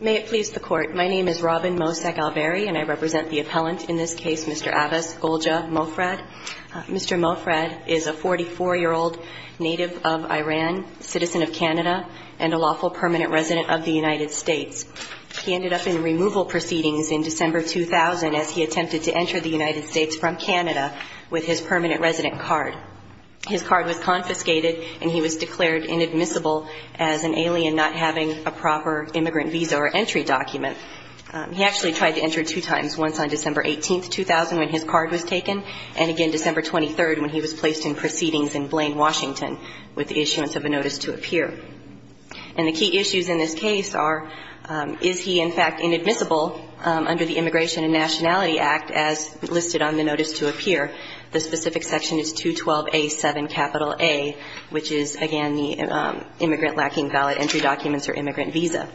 May it please the Court, my name is Robin Mosak-Alberry and I represent the appellant in this case, Mr. Abbas Goljah-Mofrad. Mr. Mofrad is a 44-year-old native of Iran, citizen of Canada, and a lawful permanent resident of the United States. He ended up in removal proceedings in December 2000 as he attempted to enter the United States from Canada with his permanent resident card. His card was confiscated and he was declared inadmissible as an alien not having a proper immigrant visa or entry document. He actually tried to enter two times, once on December 18, 2000 when his card was taken, and again December 23 when he was placed in proceedings in Blaine, Washington, with the issuance of a notice to appear. And the key issues in this case are, is he in fact inadmissible under the Immigration and Nationality Act as listed on the notice to appear? The specific section is 212A7A, which is, again, the immigrant lacking valid entry documents or immigrant visa.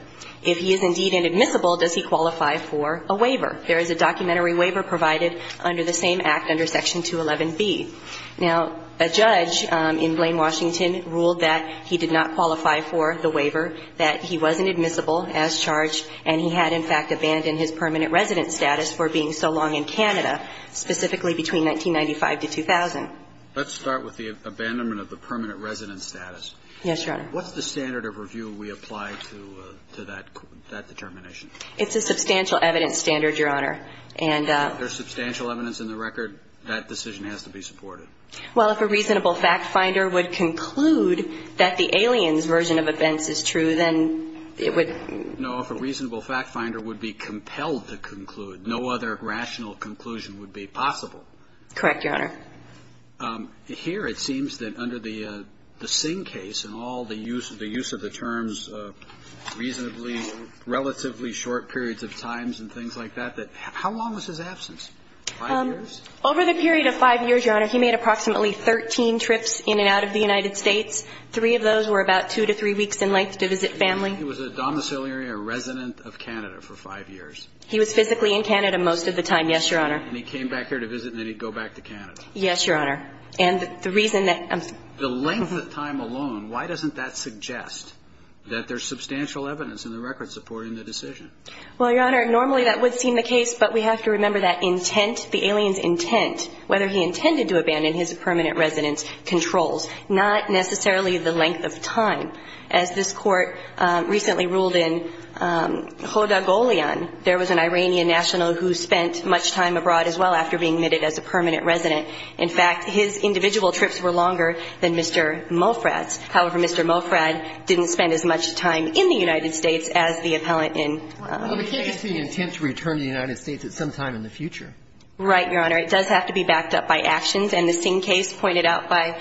If he is indeed inadmissible, does he qualify for a waiver? There is a documentary waiver provided under the same act under Section 211B. Now, a judge in Blaine, Washington, ruled that he did not qualify for the waiver, that he wasn't admissible as charged, and he had, in fact, abandoned his permanent resident status for being so long in Canada, specifically between 1995 to 2000. Let's start with the abandonment of the permanent resident status. Yes, Your Honor. What's the standard of review we apply to that determination? It's a substantial evidence standard, Your Honor. And there's substantial evidence in the record. That decision has to be supported. Well, if a reasonable fact finder would conclude that the alien's version of events is true, then it would be? No. If a reasonable fact finder would be compelled to conclude, no other rational conclusion would be possible. Correct, Your Honor. Here it seems that under the Singh case and all the use of the terms, reasonably relatively short periods of times and things like that, that how long was his absence? Five years. Over the period of five years, Your Honor, he made approximately 13 trips in and out of the United States. Three of those were about two to three weeks in length to visit family. He was a domiciliary, a resident of Canada for five years. He was physically in Canada most of the time, yes, Your Honor. And he came back here to visit, and then he'd go back to Canada. Yes, Your Honor. And the reason that... The length of time alone, why doesn't that suggest that there's substantial evidence in the record supporting the decision? Well, Your Honor, normally that would seem the case, but we have to remember that intent, the alien's intent, whether he intended to abandon his permanent residence, controls, not necessarily the length of time. As this Court recently ruled in Hodogolian, there was an Iranian national who spent much time abroad as well after being admitted as a permanent resident. In fact, his individual trips were longer than Mr. Mofrad's. However, Mr. Mofrad didn't spend as much time in the United States as the appellant in Canada did. But it gives us the intent to return to the United States at some time in the future. Right, Your Honor. It does have to be backed up by actions. And the Singh case pointed out by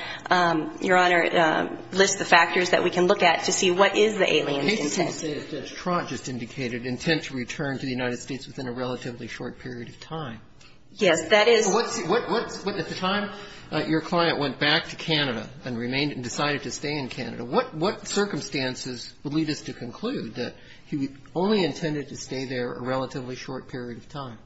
Your Honor lists the factors that we can look at to see what is the alien's intent. The case you say that Trott just indicated, intent to return to the United States within a relatively short period of time. Yes, that is... What's the time your client went back to Canada and remained and decided to stay in Canada, what circumstances would lead us to conclude that he only intended to stay there a relatively short period of time?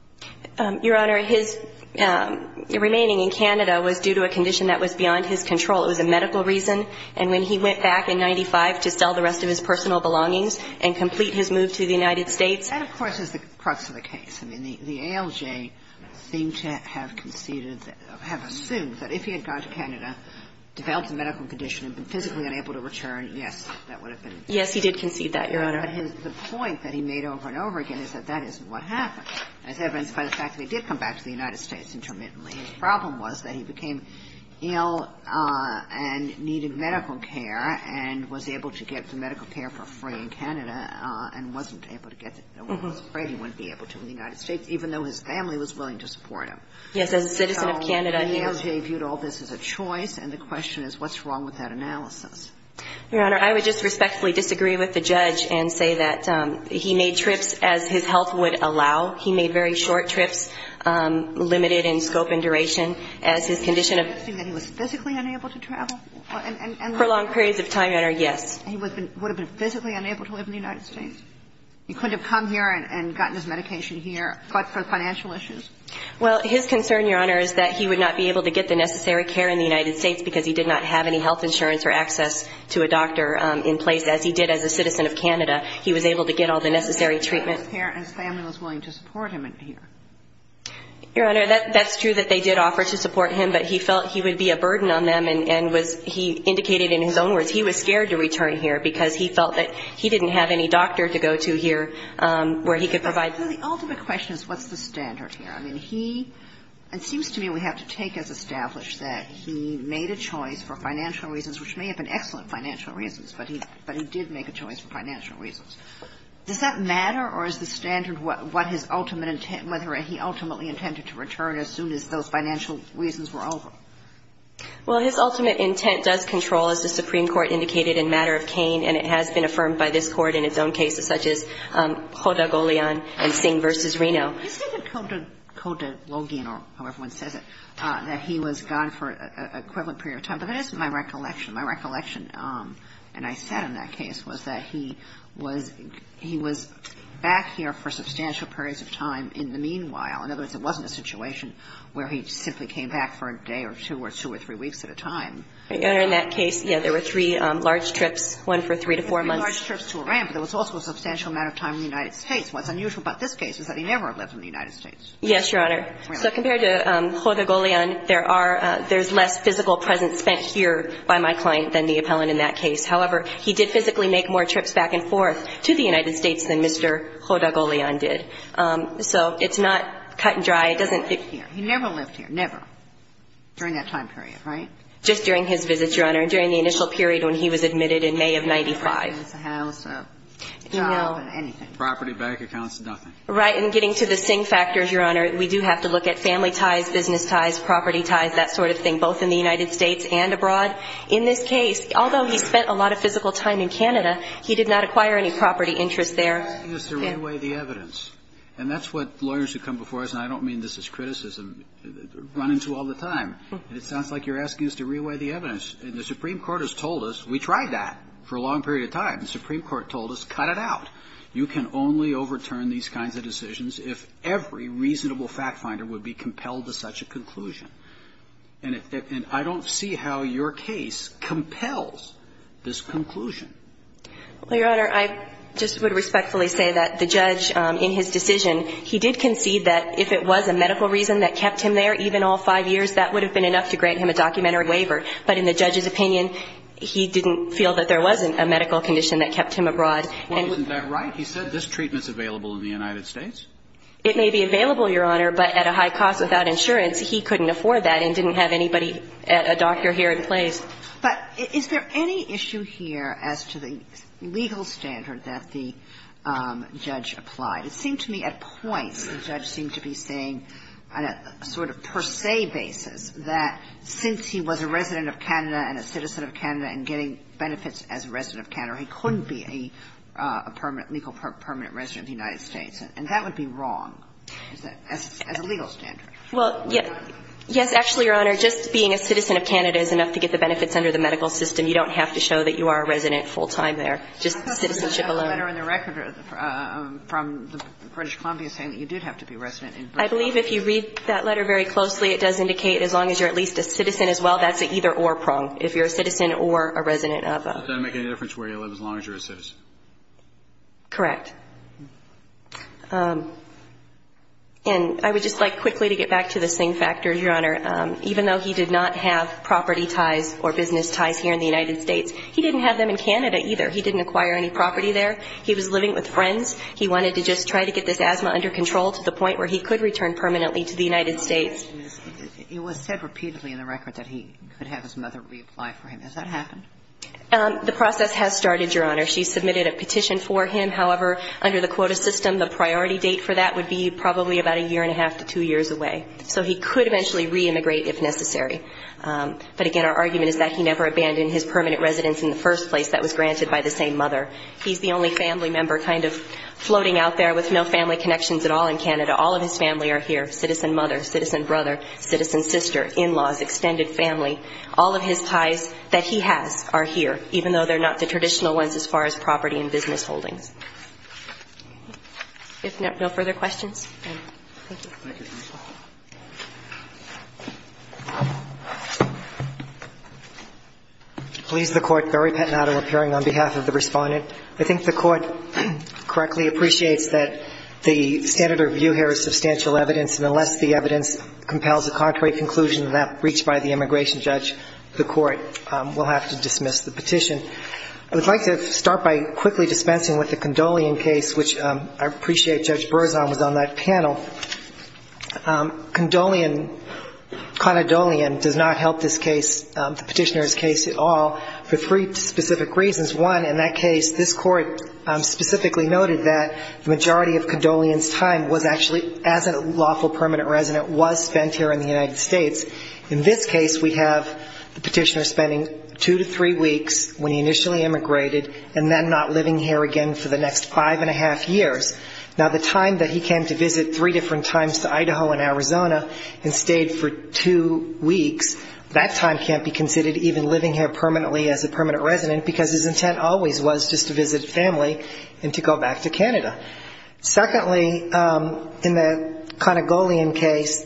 Your Honor, his remaining in Canada was due to a condition that was beyond his control. It was a medical reason. And when he went back in 1995 to sell the rest of his personal belongings and complete his move to the United States... That, of course, is the crux of the case. I mean, the ALJ seemed to have conceded, have assumed that if he had gone to Canada, developed a medical condition and been physically unable to return, yes, that would have been... Yes, he did concede that, Your Honor. But the point that he made over and over again is that that is what happened. As evidenced by the fact that he did come back to the United States intermittently. His problem was that he became ill and needed medical care and was able to get the medical care for free in Canada and wasn't able to get it. He was afraid he wouldn't be able to in the United States, even though his family was willing to support him. Yes, as a citizen of Canada, he... So the ALJ viewed all this as a choice, and the question is, what's wrong with that analysis? Your Honor, I would just respectfully disagree with the judge and say that he made trips as his health would allow. He made very short trips, limited in scope and duration, as his condition of... You're suggesting that he was physically unable to travel? For long periods of time, Your Honor, yes. He would have been physically unable to live in the United States? He couldn't have come here and gotten his medication here, but for financial issues? Well, his concern, Your Honor, is that he would not be able to get the necessary care in the United States because he did not have any health insurance or access to a doctor in place, as he did as a citizen of Canada. He was able to get all the necessary treatment. He was able to get all the necessary care, and his family was willing to support him here. Your Honor, that's true that they did offer to support him, but he felt he would be a burden on them, and was he indicated in his own words, he was scared to return here because he felt that he didn't have any doctor to go to here where he could provide... So the ultimate question is, what's the standard here? I mean, he – it seems to me we have to take as established that he made a choice for financial reasons, which may have been excellent financial reasons, but he did make a choice for financial reasons. Does that matter, or is the standard what his ultimate – whether he ultimately intended to return as soon as those financial reasons were over? Well, his ultimate intent does control, as the Supreme Court indicated, in matter of Kane, and it has been affirmed by this Court in its own cases, such as Cota-Goleon and Singh v. Reno. Isn't it Cota-Login, or however one says it, that he was gone for an equivalent period of time? But that isn't my recollection. My recollection, and I said in that case, was that he was – he was back here for substantial periods of time in the meanwhile. In other words, it wasn't a situation where he simply came back for a day or two or two or three weeks at a time. Your Honor, in that case, yes, there were three large trips, one for three to four months. Three large trips to Iran, but there was also a substantial amount of time in the United States. What's unusual about this case is that he never had lived in the United States. Yes, Your Honor. So compared to Cota-Goleon, there are – there's less physical presence spent here by my client than the appellant in that case. However, he did physically make more trips back and forth to the United States than Mr. Cota-Goleon did. So it's not cut and dry. It doesn't – He never lived here. He never lived here, never, during that time period, right? Just during his visits, Your Honor, during the initial period when he was admitted in May of 1995. He didn't have a house, a job, or anything. Property, bank accounts, nothing. Right. And getting to the Singh factors, Your Honor, we do have to look at family ties, business ties, property ties, that sort of thing, both in the United States and abroad. In this case, although he spent a lot of physical time in Canada, he did not acquire any property interest there. You're asking us to re-weigh the evidence. And that's what lawyers who come before us – and I don't mean this as criticism, run into all the time – it sounds like you're asking us to re-weigh the evidence. And the Supreme Court has told us, we tried that for a long period of time. The Supreme Court told us, cut it out. You can only overturn these kinds of decisions if every reasonable fact-finder would be compelled to such a conclusion. And I don't see how your case compels this conclusion. Well, Your Honor, I just would respectfully say that the judge, in his decision, he did concede that if it was a medical reason that kept him there, even all five years, that would have been enough to grant him a documentary waiver. But in the judge's opinion, he didn't feel that there wasn't a medical condition that kept him abroad. Well, isn't that right? He said this treatment's available in the United States. It may be available, Your Honor, but at a high cost without insurance, he couldn't afford that and didn't have anybody – a doctor here in place. But is there any issue here as to the legal standard that the judge applied? It seemed to me at points the judge seemed to be saying on a sort of per se basis that since he was a resident of Canada and a citizen of Canada and getting benefits as a resident of Canada, he couldn't be a legal permanent resident of the United States. And that would be wrong, as a legal standard. Well, yes, actually, Your Honor, just being a citizen of Canada is enough to get the benefits under the medical system. You don't have to show that you are a resident full-time there, just citizenship alone. The letter in the record from the British Columbia is saying that you did have to be a resident in Britain. I believe if you read that letter very closely, it does indicate as long as you're at least a citizen as well, that's an either-or prong, if you're a citizen or a resident of a – Does that make any difference where you live as long as you're a citizen? Correct. And I would just like quickly to get back to the same factor, Your Honor. Even though he did not have property ties or business ties here in the United States, he didn't have them in Canada either. He didn't acquire any property there. He was living with friends. He wanted to just try to get this asthma under control to the point where he could return permanently to the United States. My question is, it was said repeatedly in the record that he could have his mother reapply for him. Has that happened? The process has started, Your Honor. She submitted a petition for him. However, under the quota system, the priority date for that would be probably about a year and a half to two years away. So he could eventually re-immigrate if necessary. But again, our argument is that he never abandoned his permanent residence in the first place. That was granted by the same mother. He's the only family member kind of floating out there with no family connections at all in Canada. All of his family are here, citizen mother, citizen brother, citizen sister, in-laws, extended family. All of his ties that he has are here, even though they're not the traditional ones as far as property and business holdings. If no further questions. Thank you. Thank you, counsel. Please, the Court. Barry Pettinato appearing on behalf of the Respondent. I think the Court correctly appreciates that the standard of review here is substantial evidence, and unless the evidence compels a contrary conclusion that reached by the immigration judge, the Court will have to dismiss the petition. I would like to start by quickly dispensing with the Condolian case, which I appreciate Judge Berzon was on that panel. Condolian, Conadolian, does not help this case, the petitioner's case at all, for three specific reasons. One, in that case, this Court specifically noted that the majority of Condolian's time was actually, as a lawful permanent resident, was spent here in the United States. In this case, we have the petitioner spending two to three weeks when he initially immigrated, and then not living here again for the next five and a half years. Now, the time that he came to visit three different times to Idaho and Arizona and stayed for two weeks, that time can't be considered even living here permanently as a permanent resident, because his intent always was just to visit family and to go back to Canada. Secondly, in the Condolian case,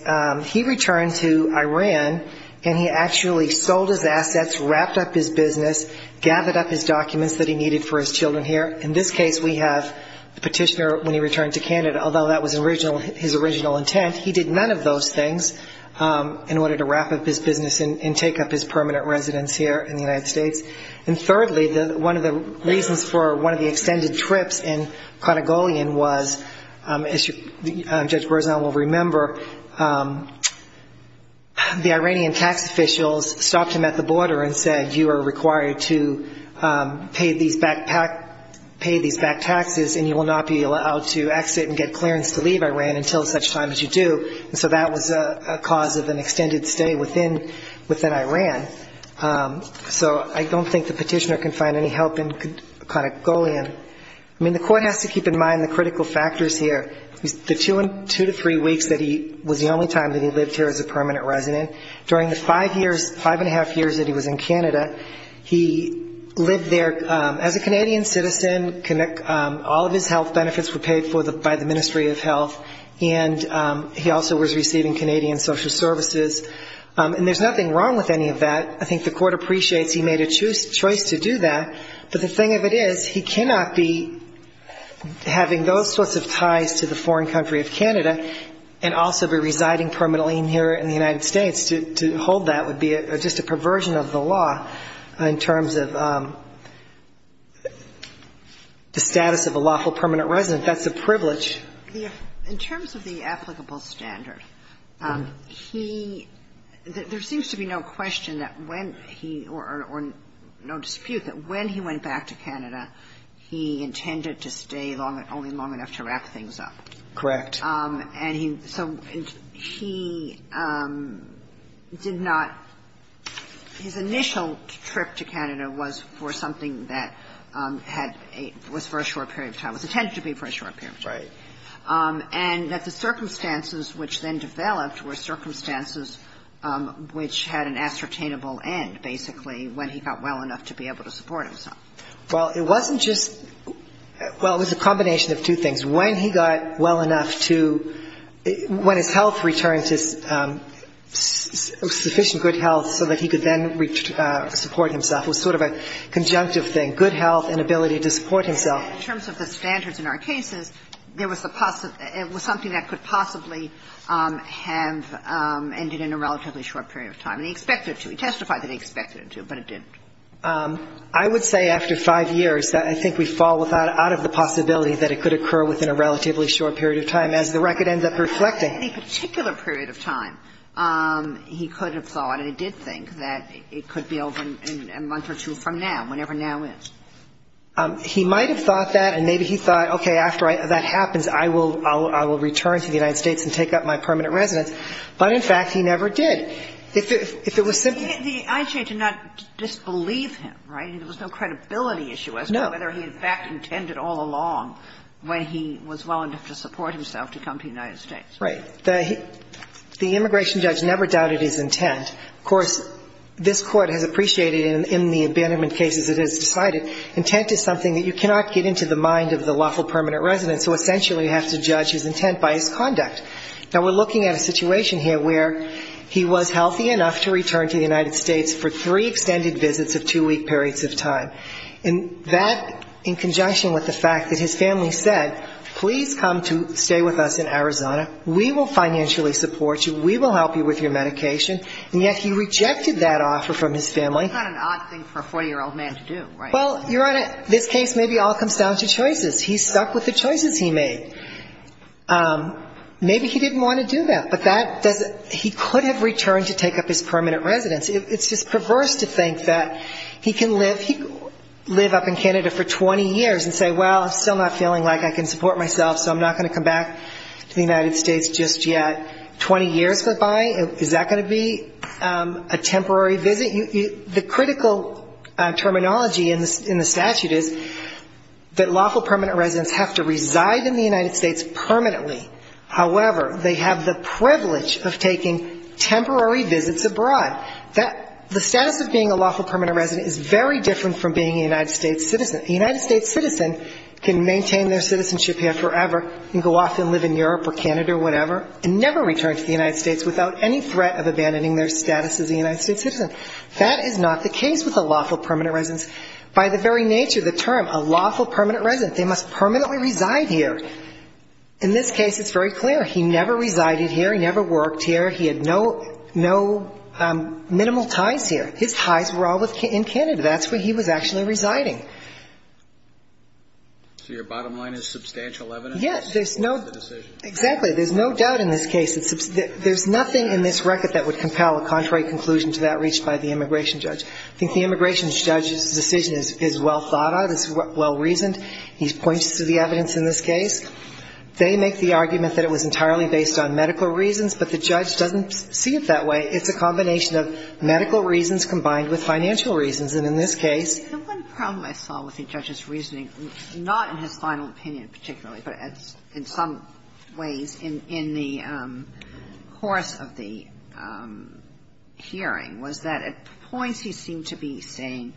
he returned to Iran, and he actually sold his assets, wrapped up his business, gathered up his documents that he needed for his children here. In this case, we have the petitioner, when he returned to Canada, although that was his original intent, he did none of those things in order to wrap up his business and take up his permanent residence here in the United States. And thirdly, one of the reasons for one of the extended trips in Condolian was, as Judge Berzon will remember, the Iranian tax officials stopped him at the border and said, you are required to pay these back taxes, and you will not be allowed to exit and get clearance to leave Iran until such time as you do. So that was a cause of an extended stay within Iran. So I don't think the petitioner can find any help in Condolian. I mean, the court has to keep in mind the critical factors here. The two to three weeks that he was the only time that he lived here as a permanent resident, during the five years, five and a half years that he was in Canada, he lived there as a Canadian citizen, all of his health benefits were paid by the Ministry of Health, and he also was receiving Canadian social services. And there's nothing wrong with any of that. I think the court appreciates he made a choice to do that. But the thing of it is, he cannot be having those sorts of ties to the foreign country of Canada and also be residing permanently here in the United States. To hold that would be just a perversion of the law in terms of the status of a lawful permanent resident. That's a privilege. Ginsburg. In terms of the applicable standard, he – there seems to be no question that when he – or no dispute that when he went back to Canada, he intended to stay long – only long enough to wrap things up. Correct. And he – so he did not – his initial trip to Canada was for something that had – was for a short period of time, was intended to be for a short period of time. Right. And that the circumstances which then developed were circumstances which had an ascertainable end, basically, when he got well enough to be able to support himself. Well, it wasn't just – well, it was a combination of two things. When he got well enough to – when his health returned to sufficient good health so that he could then support himself, it was sort of a conjunctive thing, good health and ability to support himself. In terms of the standards in our cases, there was a – it was something that could possibly have ended in a relatively short period of time. And he expected it to. He testified that he expected it to, but it didn't. I would say after five years, I think we fall without – out of the possibility that it could occur within a relatively short period of time as the record ends up reflecting. In any particular period of time, he could have thought and he did think that it could be over in a month or two from now, whenever now is. He might have thought that, and maybe he thought, okay, after that happens, I will return to the United States and take up my permanent residence. But, in fact, he never did. If it was simply – The IJ did not disbelieve him, right? There was no credibility issue as to whether he, in fact, intended all along when he was well enough to support himself to come to the United States. Right. The immigration judge never doubted his intent. Of course, this Court has appreciated in the abandonment cases it has decided intent is something that you cannot get into the mind of the lawful permanent resident, so essentially you have to judge his intent by his conduct. Now, we're looking at a situation here where he was healthy enough to return to the United States for three extended visits of two-week periods of time. And that, in conjunction with the fact that his family said, please come to stay with us in Arizona, we will financially support you, we will help you with your medication, and yet he rejected that offer from his family. That's not an odd thing for a 40-year-old man to do, right? Well, Your Honor, this case maybe all comes down to choices. He stuck with the choices he made. Maybe he didn't want to do that, but that doesn't – he could have returned to take up his permanent residence. It's just perverse to think that he can live – he could live up in Canada for 20 years and say, well, I'm still not feeling like I can support myself, so I'm not going to come back to the United States just yet. Twenty years go by? Is that going to be a temporary visit? The critical terminology in the statute is that lawful permanent residents have to reside in the United States permanently. However, they have the privilege of taking temporary visits abroad. The status of being a lawful permanent resident is very different from being a United States citizen. A United States citizen can maintain their citizenship here forever and go off and live in Europe or Canada or whatever and never return to the United States without any threat of abandoning their status as a United States citizen. That is not the case with a lawful permanent resident. By the very nature of the term, a lawful permanent resident, they must permanently reside here. In this case, it's very clear. He never resided here. He never worked here. He had no minimal ties here. His ties were all in Canada. That's where he was actually residing. So your bottom line is substantial evidence? Yes. There's no doubt in this case. There's nothing in this record that would compel a contrary conclusion to that reached by the immigration judge. I think the immigration judge's decision is well thought of. It's well reasoned. He points to the evidence in this case. They make the argument that it was entirely based on medical reasons, but the judge doesn't see it that way. It's a combination of medical reasons combined with financial reasons. And in this case the one problem I saw with the judge's reasoning, not in his final opinion particularly, but in some ways in the course of the hearing, was that at points he seemed to be saying,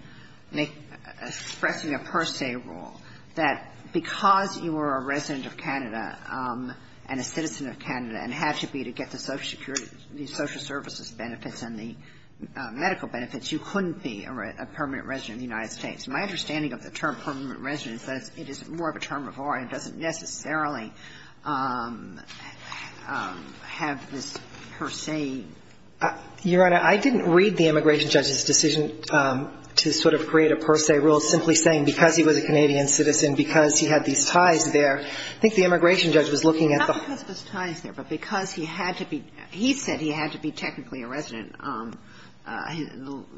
expressing a per se rule that because you were a resident of Canada and a citizen of Canada and had to be to get the social security, the social services benefits and the medical benefits, you couldn't be a permanent resident of the United States. My understanding of the term permanent resident is that it is more of a term of origin and doesn't necessarily have this per se. Your Honor, I didn't read the immigration judge's decision to sort of create a per se rule simply saying because he was a Canadian citizen, because he had these ties there. I think the immigration judge was looking at the whole thing. But because he had to be he said he had to be technically a resident,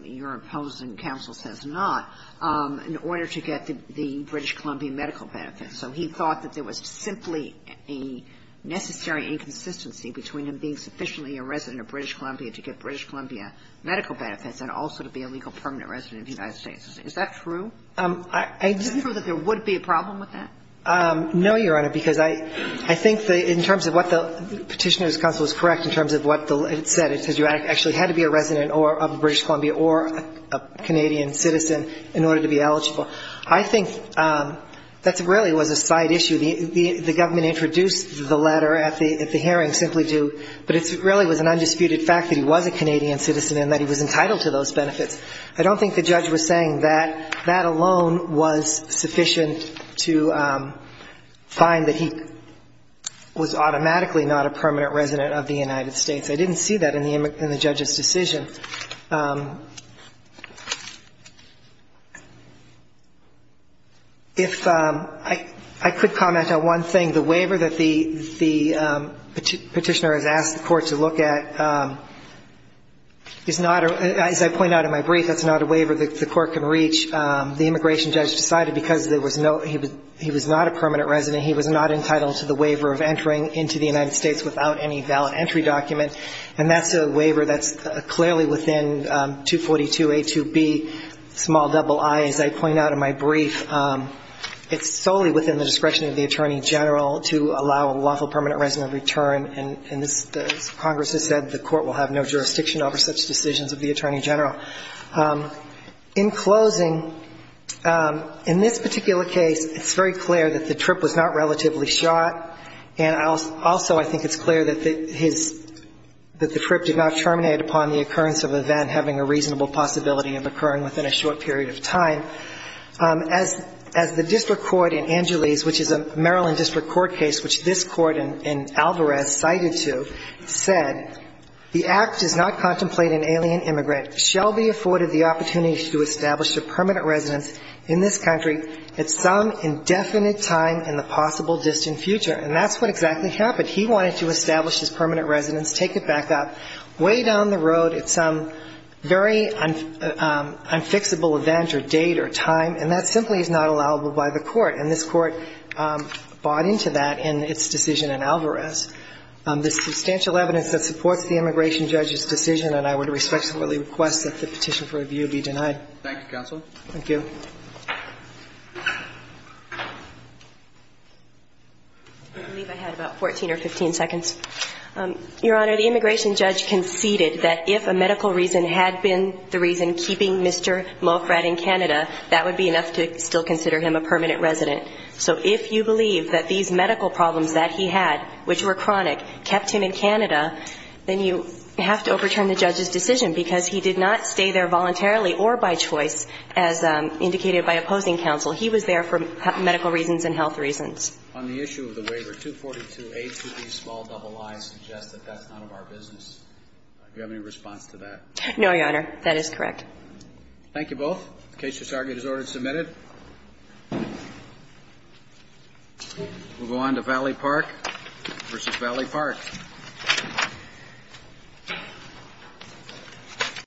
your opposing counsel says not, in order to get the British Columbia medical benefits. So he thought that there was simply a necessary inconsistency between him being sufficiently a resident of British Columbia to get British Columbia medical benefits and also to be a legal permanent resident of the United States. Is that true? Is it true that there would be a problem with that? No, your Honor, because I think in terms of what the petitioner's counsel is correct in terms of what it said. It says you actually had to be a resident of British Columbia or a Canadian citizen in order to be eligible. I think that really was a side issue. The government introduced the letter at the hearing simply to – but it really was an undisputed fact that he was a Canadian citizen and that he was entitled to those benefits. I don't think the judge was saying that. That alone was sufficient to find that he was automatically not a permanent resident of the United States. I didn't see that in the judge's decision. If – I could comment on one thing. The waiver that the petitioner has asked the court to look at is not – as I point out in my brief, that's not a waiver the court can reach. The immigration judge decided because there was no – he was not a permanent resident, he was not entitled to the waiver of entering into the United States without any valid entry document. And that's a waiver that's clearly within 242A2B, small double I, as I point out in my brief. It's solely within the discretion of the Attorney General to allow a lawful permanent resident return. And this – as Congress has said, the court will have no jurisdiction over such decisions of the Attorney General. In closing, in this particular case, it's very clear that the trip was not relatively shot, and also I think it's clear that his – that the trip did not terminate upon the occurrence of an event having a reasonable possibility of occurring within a short period of time. As the district court in Angeles, which is a Maryland district court case, which this court in Alvarez cited to, said, And that's what exactly happened. He wanted to establish his permanent residence, take it back up, way down the road at some very unfixable event or date or time, and that simply is not allowable by the court. And this court bought into that in its decision in Alvarez. resident in the United States. And I would respectfully request that the petition for review be denied. Thank you, Counsel. Thank you. I believe I had about 14 or 15 seconds. Your Honor, the immigration judge conceded that if a medical reason had been the reason keeping Mr. Mofrat in Canada, that would be enough to still consider him a permanent resident. So if you believe that these medical problems that he had, which were chronic, kept him in Canada, then you have to overturn the judge's decision, because he did not stay there voluntarily or by choice, as indicated by opposing counsel. He was there for medical reasons and health reasons. On the issue of the waiver, 242A to B, small double I, suggests that that's none of our business. Do you have any response to that? No, Your Honor. That is correct. Thank you both. The case is argued as ordered and submitted. We'll go on to Valley Park v. Valley Park.